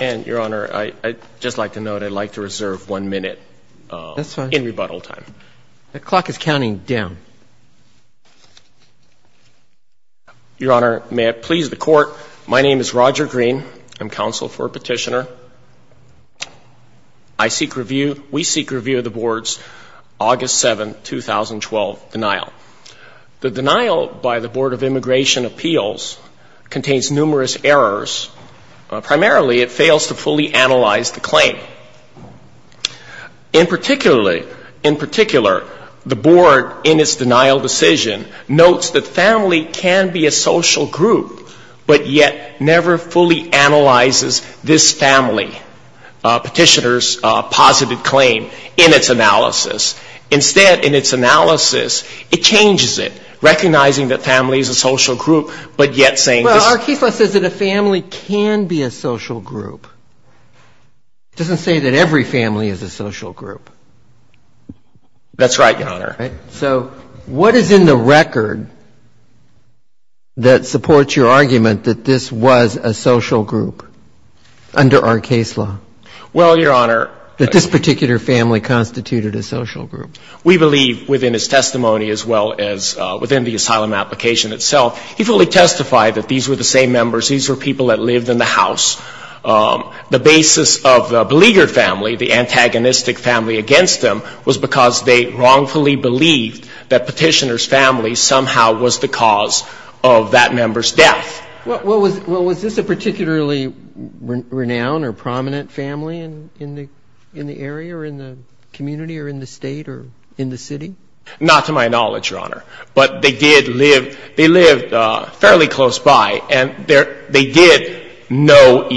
And, Your Honor, I'd just like to note I'd like to reserve one minute in rebuttal time. The clock is counting down. Your Honor, may it please the Court, my name is Roger Green. I'm counsel for a petitioner. I seek review, we seek review of the Board's August 7, 2012, denial. The denial by the Board of Immigration Appeals contains numerous errors. Primarily, it fails to fully analyze the claim. In particular, the Board, in its denial decision, notes that family can be a social group, but yet never fully analyzes this family petitioner's positive claim in its analysis. Instead, in its analysis, it changes it, recognizing that family is a social group, but yet saying this. Well, our case law says that a family can be a social group. It doesn't say that every family is a social group. That's right, Your Honor. So what is in the record that supports your argument that this was a social group under our case law? Well, Your Honor. That this particular family constituted a social group. We believe, within his testimony as well as within the asylum application itself, he fully testified that these were the same members. These were people that lived in the house. The basis of the beleaguered family, the antagonistic family against them, was because they wrongfully believed that petitioner's family somehow was the cause of that member's death. Well, was this a particularly renowned or prominent family in the area or in the community or in the State or in the city? Not to my knowledge, Your Honor. But they did live fairly close by, and they did know of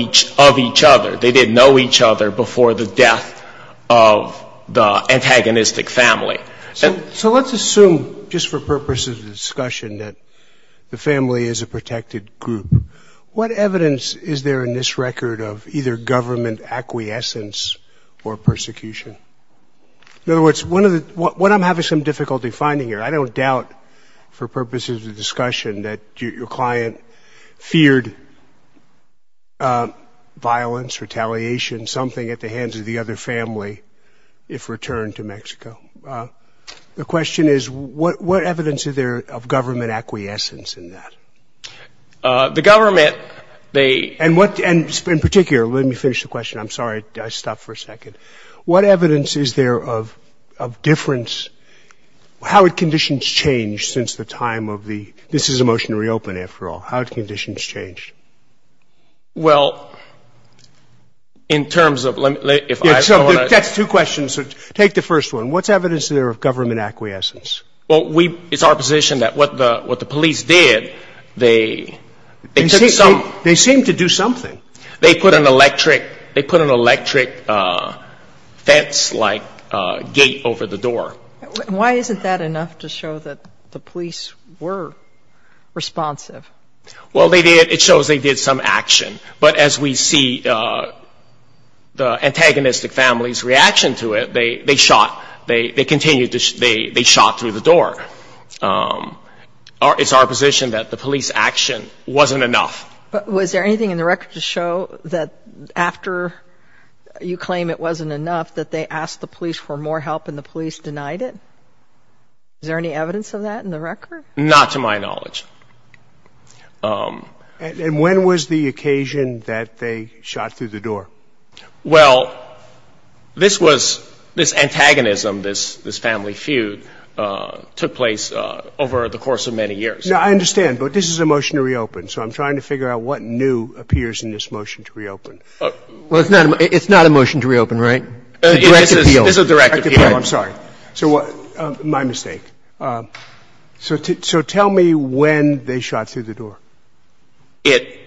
each other. They did know each other before the death of the antagonistic family. So let's assume, just for purposes of discussion, that the family is a protected group. What evidence is there in this record of either government acquiescence or persecution? In other words, what I'm having some difficulty finding here, I don't doubt for purposes of discussion that your client feared violence, retaliation, something at the hands of the other family if returned to Mexico. The question is, what evidence is there of government acquiescence in that? The government, they — And in particular, let me finish the question. I'm sorry, I stopped for a second. What evidence is there of difference? How had conditions changed since the time of the — this is a motion to reopen, after all. How had conditions changed? Well, in terms of — That's two questions. Take the first one. What's evidence there of government acquiescence? Well, it's our position that what the police did, they took some — They seemed to do something. They put an electric fence-like gate over the door. Why isn't that enough to show that the police were responsive? Well, they did. It shows they did some action. But as we see the antagonistic family's reaction to it, they shot. They continued to — they shot through the door. It's our position that the police action wasn't enough. But was there anything in the record to show that after you claim it wasn't enough, that they asked the police for more help and the police denied it? Is there any evidence of that in the record? Not to my knowledge. And when was the occasion that they shot through the door? Well, this was — this antagonism, this family feud, took place over the course of many years. Now, I understand, but this is a motion to reopen, so I'm trying to figure out what new appears in this motion to reopen. Well, it's not a motion to reopen, right? It's a direct appeal. It's a direct appeal. I'm sorry. My mistake. So tell me when they shot through the door. It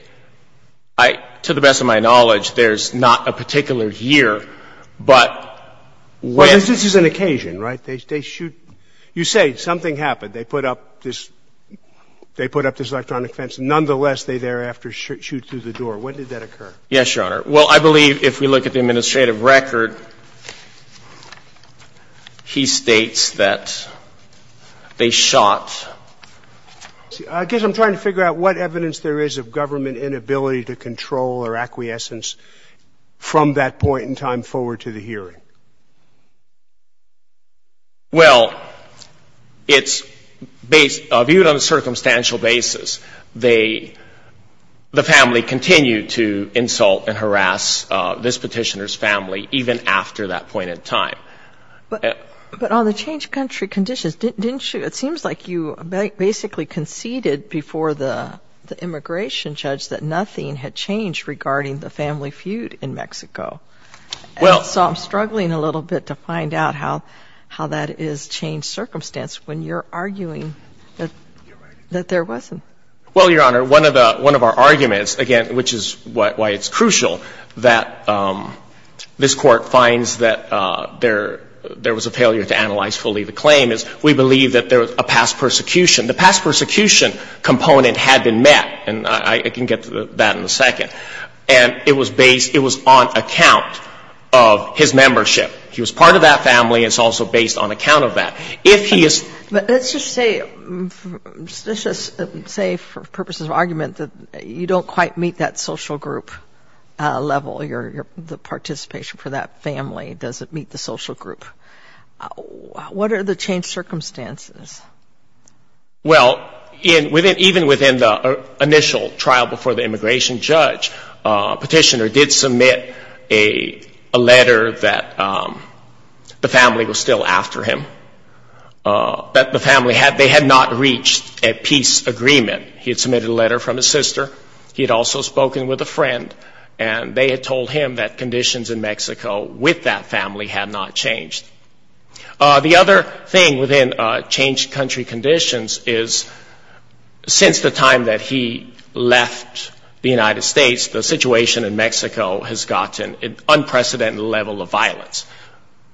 — to the best of my knowledge, there's not a particular year, but when — Well, this is an occasion, right? They shoot — you say something happened. They put up this — they put up this electronic fence. Nonetheless, they thereafter shoot through the door. When did that occur? Yes, Your Honor. Well, I believe if we look at the administrative record, he states that they shot. I guess I'm trying to figure out what evidence there is of government inability to control or acquiescence from that point in time forward to the hearing. Well, it's based — viewed on a circumstantial basis, they — the family continued to insult and harass this petitioner's family even after that point in time. But on the changed country conditions, didn't you — it seems like you basically conceded before the immigration judge that nothing had changed regarding the family feud in Mexico. Well — So I'm struggling a little bit to find out how that is changed circumstance when you're arguing that there wasn't. Well, Your Honor, one of the — one of our arguments, again, which is why it's crucial that this Court finds that there was a failure to analyze fully the claim, is we believe that there was a past persecution. The past persecution component had been met, and I can get to that in a second. And it was based — it was on account of his membership. He was part of that family. It's also based on account of that. If he is — But let's just say — let's just say for purposes of argument that you don't quite meet that social group level. Your — the participation for that family doesn't meet the social group. What are the changed circumstances? Well, even within the initial trial before the immigration judge, petitioner did submit a letter that the family was still after him, that the family had — they had not reached a peace agreement. He had submitted a letter from his sister. He had also spoken with a friend, and they had told him that conditions in Mexico with that family had not changed. The other thing within changed country conditions is, since the time that he left the United States, the situation in Mexico has gotten an unprecedented level of violence.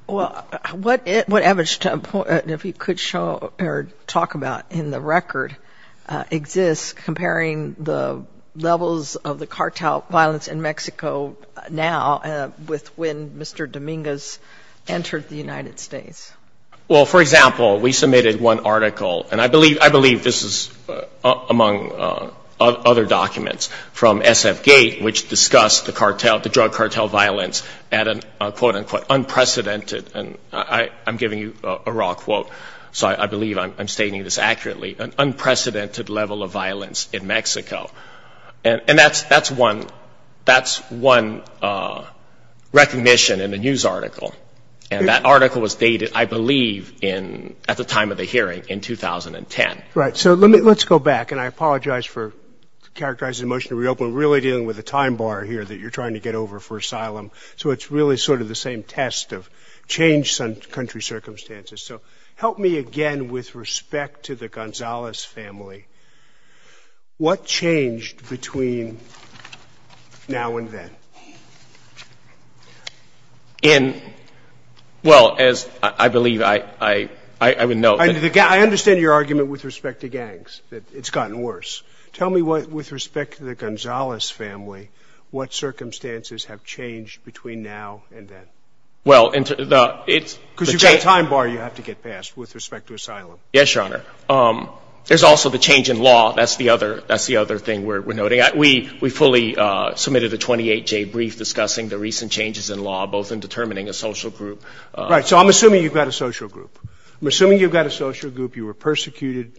Well, what average time point, if you could show or talk about in the record, exists comparing the levels of the cartel violence in Mexico now with when Mr. Dominguez entered the United States? Well, for example, we submitted one article, and I believe this is among other documents from SFGATE, which discussed the drug cartel violence at an, quote-unquote, unprecedented — and I'm giving you a raw quote, so I believe I'm stating this accurately — an unprecedented level of violence in Mexico. And that's one recognition in a news article, and that article was dated, I believe, at the time of the hearing in 2010. Right. So let's go back, and I apologize for characterizing the motion to reopen, really dealing with a time bar here that you're trying to get over for asylum. So it's really sort of the same test of changed country circumstances. So help me again with respect to the Gonzalez family. What changed between now and then? In — well, as I believe I would note — I understand your argument with respect to gangs, that it's gotten worse. Tell me with respect to the Gonzalez family, what circumstances have changed between now and then? Well, it's — Because you've got a time bar you have to get past with respect to asylum. Yes, Your Honor. There's also the change in law. That's the other thing we're noting. We fully submitted a 28-J brief discussing the recent changes in law, both in determining a social group — Right. So I'm assuming you've got a social group. I'm assuming you've got a social group, you were persecuted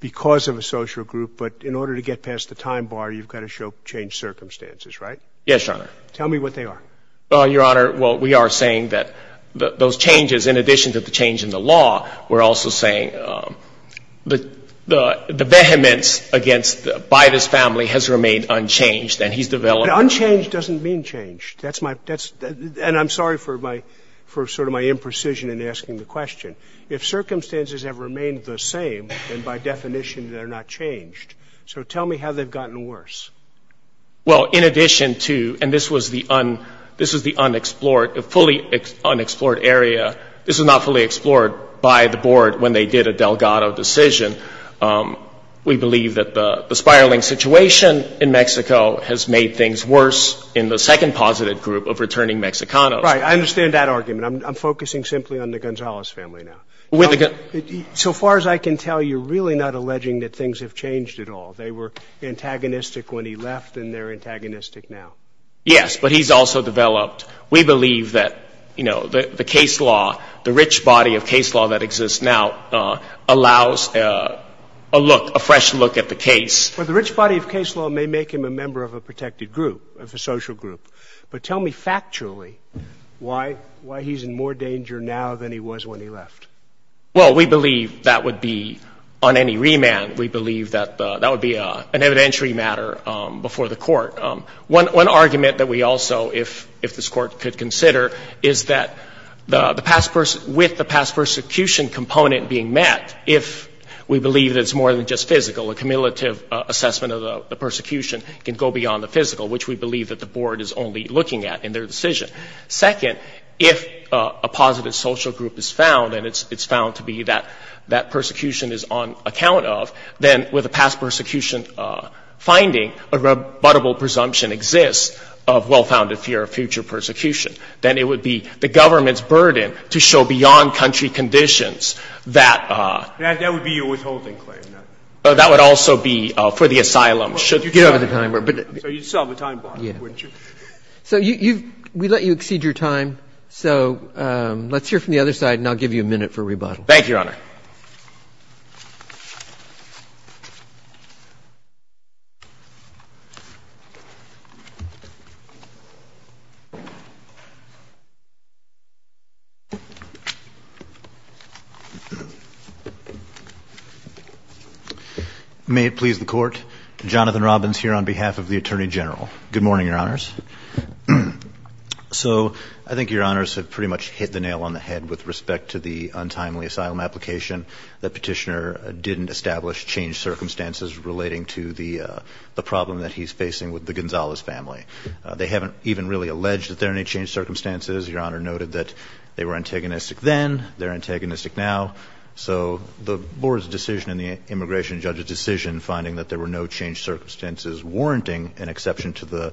because of a social group, but in order to get past the time bar, you've got to show changed circumstances, right? Yes, Your Honor. Tell me what they are. Well, Your Honor, well, we are saying that those changes, in addition to the change in the law, we're also saying the vehemence against — by this family has remained unchanged, and he's developed — Unchanged doesn't mean changed. That's my — and I'm sorry for my — for sort of my imprecision in asking the question. If circumstances have remained the same, then by definition they're not changed. So tell me how they've gotten worse. Well, in addition to — and this was the unexplored — a fully unexplored area. This was not fully explored by the board when they did a Delgado decision. We believe that the spiraling situation in Mexico has made things worse in the second positive group of returning Mexicanos. Right. I understand that argument. I'm focusing simply on the Gonzalez family now. So far as I can tell, you're really not alleging that things have changed at all. They were antagonistic when he left, and they're antagonistic now. Yes, but he's also developed. We believe that, you know, the case law, the rich body of case law that exists now, allows a look, a fresh look at the case. Well, the rich body of case law may make him a member of a protected group, of a social group. But tell me factually why he's in more danger now than he was when he left. Well, we believe that would be on any remand. We believe that that would be an evidentiary matter before the court. One argument that we also, if this court could consider, is that the past — with the past persecution component being met, if we believe that it's more than just physical, a cumulative assessment of the persecution can go beyond the physical, which we believe that the board is only looking at in their decision. Second, if a positive social group is found, and it's found to be that that persecution is on account of, then with a past persecution finding, a rebuttable presumption exists of well-founded fear of future persecution. Then it would be the government's burden to show beyond country conditions that — That would be your withholding claim. That would also be for the asylum. Get over the timer. So you'd solve a time bomb, wouldn't you? So you've — we let you exceed your time, so let's hear from the other side, and I'll give you a minute for rebuttal. Thank you, Your Honor. May it please the Court, Jonathan Robbins here on behalf of the Attorney General. Good morning, Your Honors. So I think Your Honors have pretty much hit the nail on the head with respect to the untimely asylum application, that Petitioner didn't establish changed circumstances relating to the problem that he's facing with the Gonzalez family. They haven't even really alleged that there are any changed circumstances. Your Honor noted that they were antagonistic then, they're antagonistic now. So the board's decision and the immigration judge's decision finding that there were no changed circumstances warranting an exception to the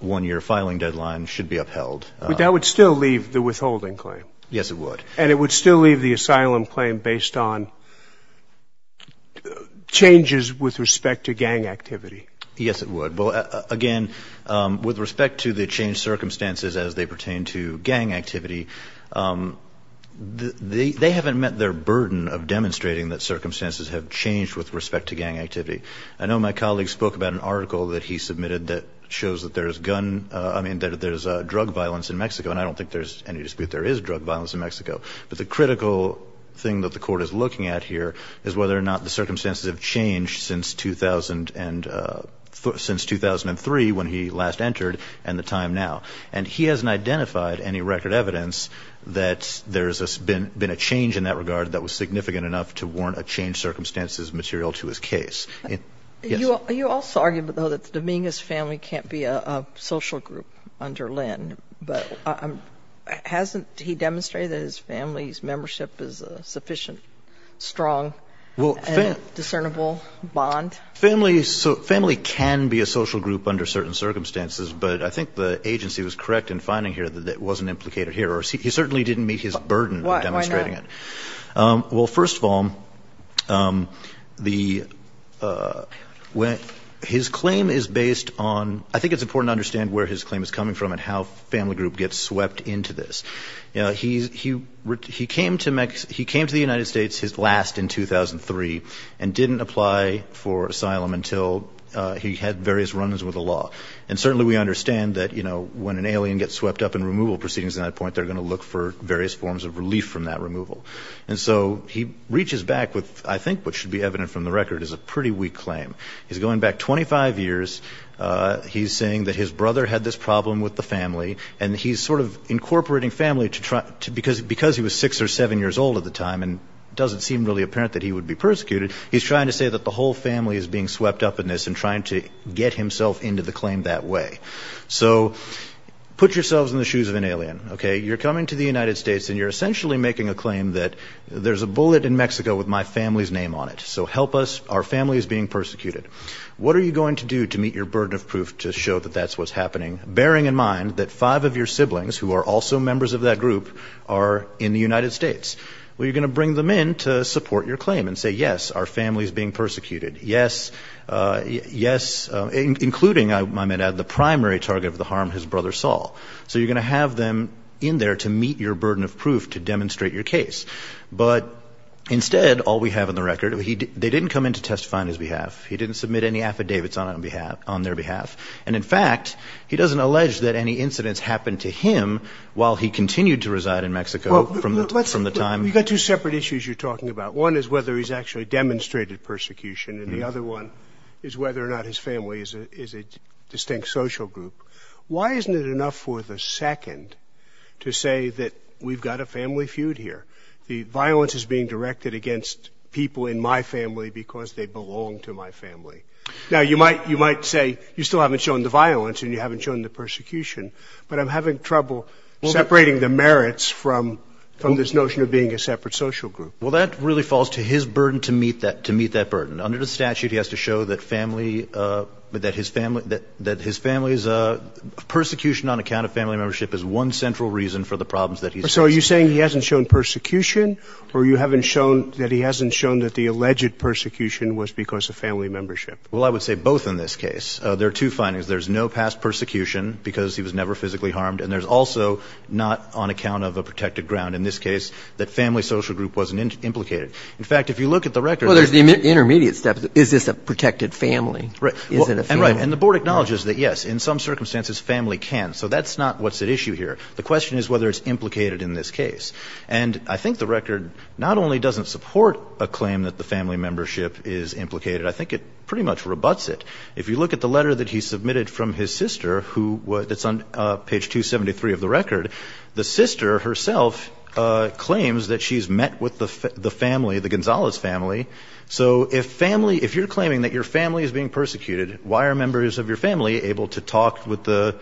one-year filing deadline should be upheld. But that would still leave the withholding claim. Yes, it would. And it would still leave the asylum claim based on changes with respect to gang activity. Yes, it would. Well, again, with respect to the changed circumstances as they pertain to gang activity, they haven't met their burden of demonstrating that circumstances have changed with respect to gang activity. I know my colleague spoke about an article that he submitted that shows that there's gun, I mean that there's drug violence in Mexico, and I don't think there's any dispute there is drug violence in Mexico. But the critical thing that the Court is looking at here is whether or not the circumstances have changed since 2003, when he last entered, and the time now. And he hasn't identified any record evidence that there's been a change in that regard that was significant enough to warrant a changed circumstances material to his case. Are you also arguing, though, that the Dominguez family can't be a social group under Lynn? But hasn't he demonstrated that his family's membership is a sufficient, strong, discernible bond? Family can be a social group under certain circumstances, but I think the agency was correct in finding here that it wasn't implicated here. He certainly didn't meet his burden of demonstrating it. Why not? Well, first of all, his claim is based on — I think it's important to understand where his claim is coming from and how family group gets swept into this. You know, he came to the United States last in 2003 and didn't apply for asylum until he had various runs with the law. And certainly we understand that, you know, when an alien gets swept up in removal proceedings at that point, they're going to look for various forms of relief from that removal. And so he reaches back with, I think what should be evident from the record, is a pretty weak claim. He's going back 25 years. He's saying that his brother had this problem with the family, and he's sort of incorporating family because he was six or seven years old at the time and it doesn't seem really apparent that he would be persecuted. He's trying to say that the whole family is being swept up in this and trying to get himself into the claim that way. So put yourselves in the shoes of an alien, okay? You're coming to the United States and you're essentially making a claim that there's a bullet in Mexico with my family's name on it. So help us. Our family is being persecuted. What are you going to do to meet your burden of proof to show that that's what's happening, bearing in mind that five of your siblings, who are also members of that group, are in the United States? Well, you're going to bring them in to support your claim and say, yes, our family is being persecuted. Yes, yes, including, I might add, the primary target of the harm his brother saw. So you're going to have them in there to meet your burden of proof to demonstrate your case. But instead, all we have in the record, they didn't come in to testify on his behalf. He didn't submit any affidavits on their behalf. And, in fact, he doesn't allege that any incidents happened to him while he continued to reside in Mexico from the time. You've got two separate issues you're talking about. One is whether he's actually demonstrated persecution, and the other one is whether or not his family is a distinct social group. Why isn't it enough for the second to say that we've got a family feud here? The violence is being directed against people in my family because they belong to my family. Now, you might say you still haven't shown the violence and you haven't shown the persecution, but I'm having trouble separating the merits from this notion of being a separate social group. Well, that really falls to his burden to meet that burden. Under the statute, he has to show that his family's persecution on account of family membership is one central reason for the problems that he's facing. So are you saying he hasn't shown persecution or you haven't shown that he hasn't shown that the alleged persecution was because of family membership? Well, I would say both in this case. There are two findings. There's no past persecution because he was never physically harmed, and there's also not on account of a protected ground, in this case, that family social group wasn't implicated. In fact, if you look at the record ñ Well, there's the intermediate step. Is this a protected family? Is it a family? Right, and the board acknowledges that, yes, in some circumstances, family can. So that's not what's at issue here. The question is whether it's implicated in this case. And I think the record not only doesn't support a claim that the family membership is implicated. I think it pretty much rebuts it. If you look at the letter that he submitted from his sister who ñ that's on page 273 of the record. The sister herself claims that she's met with the family, the Gonzales family. So if family ñ if you're claiming that your family is being persecuted, why are members of your family able to talk with the ñ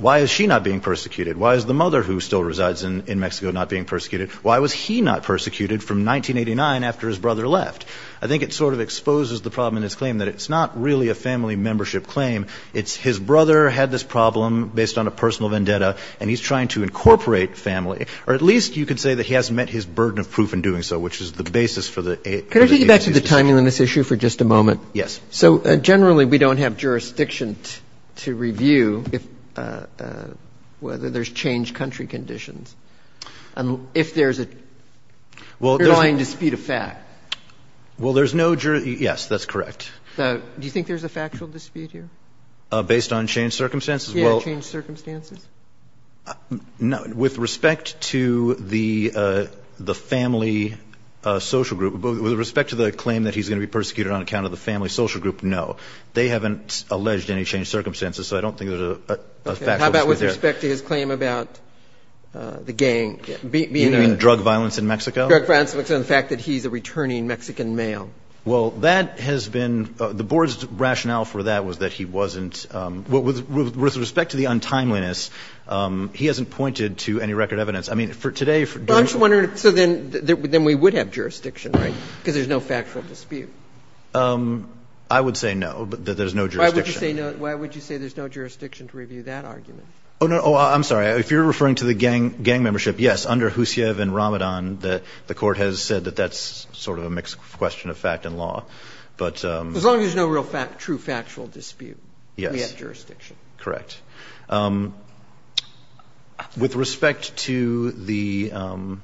why is she not being persecuted? Why is the mother who still resides in Mexico not being persecuted? Why was he not persecuted from 1989 after his brother left? I think it sort of exposes the problem in his claim that it's not really a family membership claim. It's his brother had this problem based on a personal vendetta, and he's trying to incorporate family. Or at least you could say that he hasn't met his burden of proof in doing so, which is the basis for the ñ Can I take you back to the timeliness issue for just a moment? Yes. So generally, we don't have jurisdiction to review if ñ whether there's changed country conditions. And if there's a underlying dispute of fact. Well, there's no ñ yes, that's correct. Do you think there's a factual dispute here? Based on changed circumstances? Yeah, changed circumstances. With respect to the family social group, with respect to the claim that he's going to be persecuted on account of the family social group, no. They haven't alleged any changed circumstances, so I don't think there's a factual dispute there. Okay. How about with respect to his claim about the gang being a ñ You mean drug violence in Mexico? Drug violence in Mexico and the fact that he's a returning Mexican male. Well, that has been ñ the board's rationale for that was that he wasn't ñ with respect to the untimeliness, he hasn't pointed to any record evidence. I mean, for today ñ Well, I'm just wondering ñ so then we would have jurisdiction, right, because there's no factual dispute? I would say no, that there's no jurisdiction. Why would you say no ñ why would you say there's no jurisdiction to review that argument? Oh, no. Oh, I'm sorry. If you're referring to the gang membership, yes. Under Husiev and Ramadan, the Court has said that that's sort of a mixed question of fact and law. But ñ As long as there's no real fact ñ true factual dispute, we have jurisdiction. Correct. With respect to the ñ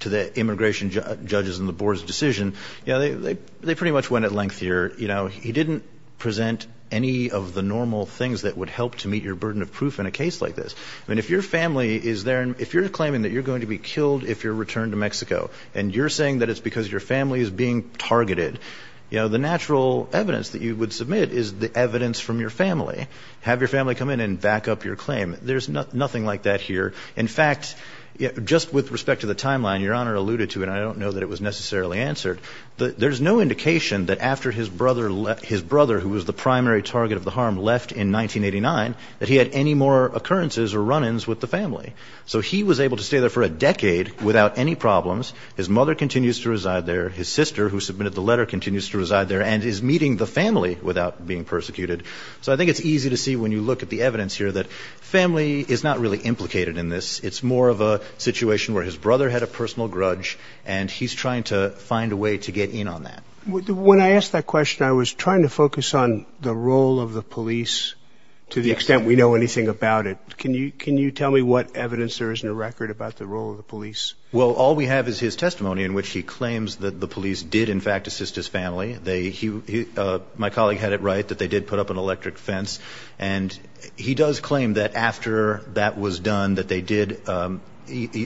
to the immigration judges and the board's decision, you know, they pretty much went at length here. You know, he didn't present any of the normal things that would help to meet your burden of proof in a case like this. I mean, if your family is there and ñ if you're claiming that you're going to be killed if you're returned to Mexico and you're saying that it's because your family is being targeted, you know, the natural evidence that you would submit is the evidence from your family. Have your family come in and back up your claim. There's nothing like that here. In fact, just with respect to the timeline Your Honor alluded to, and I don't know that it was necessarily answered, there's no indication that after his brother left ñ his brother, who was the primary target of the harm, left in 1989, that he had any more occurrences or run-ins with the family. So he was able to stay there for a decade without any problems. His mother continues to reside there. His sister, who submitted the letter, continues to reside there and is meeting the family without being persecuted. So I think it's easy to see when you look at the evidence here that family is not really implicated in this. It's more of a situation where his brother had a personal grudge and he's trying to find a way to get in on that. When I asked that question, I was trying to focus on the role of the police to the extent we know anything about it. Can you tell me what evidence there is in the record about the role of the police? Well, all we have is his testimony in which he claims that the police did, in fact, assist his family. My colleague had it right that they did put up an electric fence. And he does claim that after that was done that they did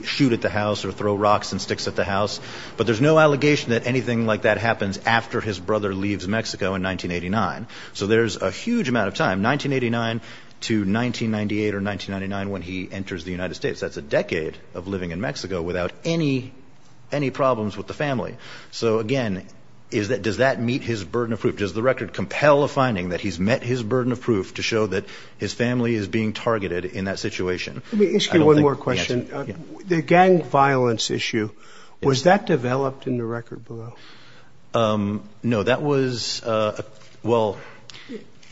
shoot at the house or throw rocks and sticks at the house. But there's no allegation that anything like that happens after his brother leaves Mexico in 1989. So there's a huge amount of time, 1989 to 1998 or 1999, when he enters the United States. That's a decade of living in Mexico without any problems with the family. So, again, does that meet his burden of proof? Does the record compel a finding that he's met his burden of proof to show that his family is being targeted in that situation? Let me ask you one more question. The gang violence issue, was that developed in the record below? No, that was – well,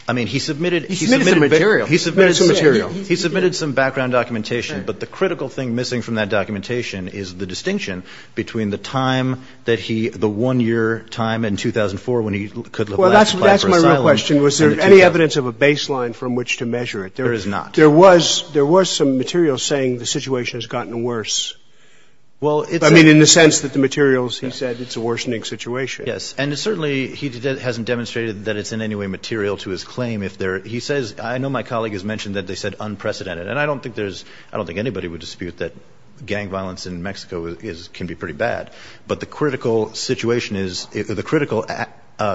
I mean, he submitted – He submitted some material. He submitted some background documentation. But the critical thing missing from that documentation is the distinction between the time that he – the one-year time in 2004 when he could last apply for asylum. Well, that's my real question. Was there any evidence of a baseline from which to measure it? There is not. There was some material saying the situation has gotten worse. Well, it's – I mean, in the sense that the materials, he said, it's a worsening situation. Yes. And certainly he hasn't demonstrated that it's in any way material to his claim if there – he says – I know my colleague has mentioned that they said unprecedented. And I don't think there's – I don't think anybody would dispute that gang violence. But the critical situation is – the critical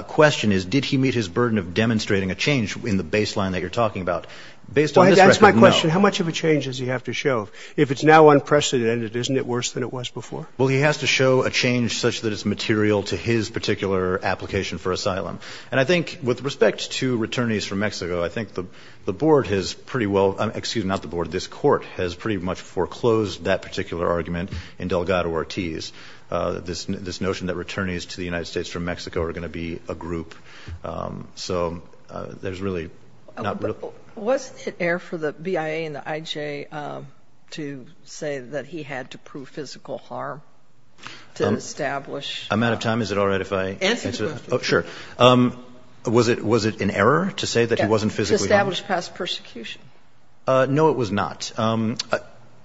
question is, did he meet his burden of demonstrating a change in the baseline that you're talking about? Based on this record, no. Well, that's my question. How much of a change does he have to show? If it's now unprecedented, isn't it worse than it was before? Well, he has to show a change such that it's material to his particular application for asylum. And I think with respect to returnees from Mexico, I think the board has pretty well – excuse me, not the board, this Court has pretty much foreclosed that particular argument in Delgado-Ortiz. This notion that returnees to the United States from Mexico are going to be a group. So there's really not – But wasn't it air for the BIA and the IJ to say that he had to prove physical harm to establish – I'm out of time. Is it all right if I answer? Answer the question. Oh, sure. Was it an error to say that he wasn't physically harmed? To establish past persecution. No, it was not.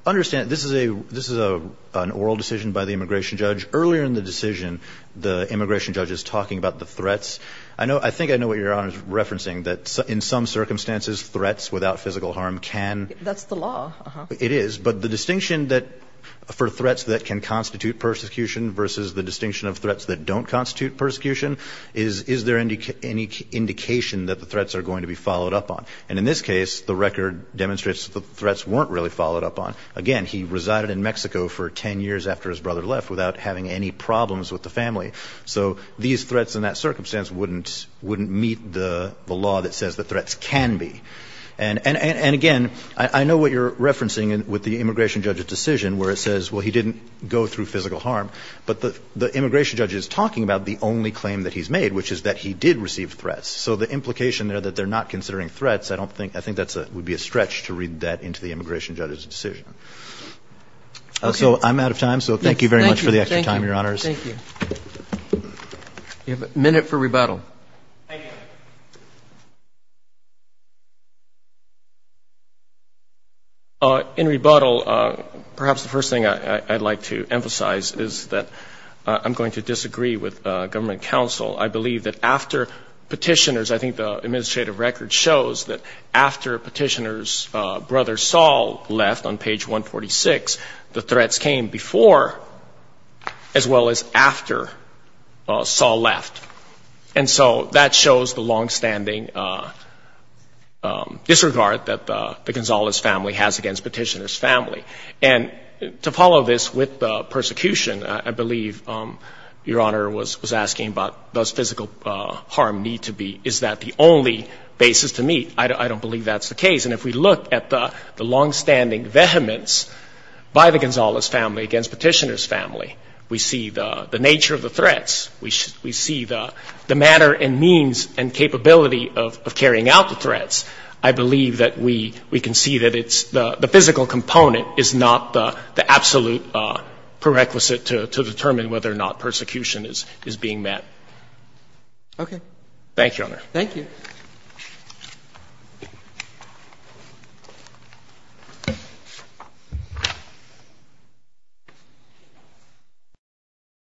Understand, this is a – this is an oral decision by the immigration judge. Earlier in the decision, the immigration judge is talking about the threats. I know – I think I know what Your Honor is referencing, that in some circumstances threats without physical harm can – That's the law. It is. But the distinction that – for threats that can constitute persecution versus the distinction of threats that don't constitute persecution is, is there any indication that the threats are going to be followed up on? And in this case, the record demonstrates that the threats weren't really followed up on. Again, he resided in Mexico for 10 years after his brother left without having any problems with the family. So these threats in that circumstance wouldn't meet the law that says the threats can be. And again, I know what you're referencing with the immigration judge's decision where it says, well, he didn't go through physical harm. But the immigration judge is talking about the only claim that he's made, which is that he did receive threats. So the implication there that they're not considering threats, I don't think – I think that's a – would be a stretch to read that into the immigration judge's decision. Okay. So I'm out of time. So thank you very much for the extra time, Your Honors. Thank you. Thank you. Thank you. You have a minute for rebuttal. Thank you. In rebuttal, perhaps the first thing I'd like to emphasize is that I'm going to disagree with government counsel. I believe that after Petitioner's – I think the administrative record shows that after Petitioner's brother Saul left on page 146, the threats came before as well as after Saul left. And so that shows the longstanding disregard that the Gonzales family has against Petitioner's family. And to follow this with the persecution, I believe Your Honor was asking about does physical harm need to be – is that the only basis to meet. I don't believe that's the case. And if we look at the longstanding vehemence by the Gonzales family against Petitioner's family, we see the nature of the threats. We see the manner and means and capability of carrying out the threats. I believe that we can see that it's – the physical component is not the absolute prerequisite to determine whether or not persecution is being met. Thank you, Your Honor. Thank you.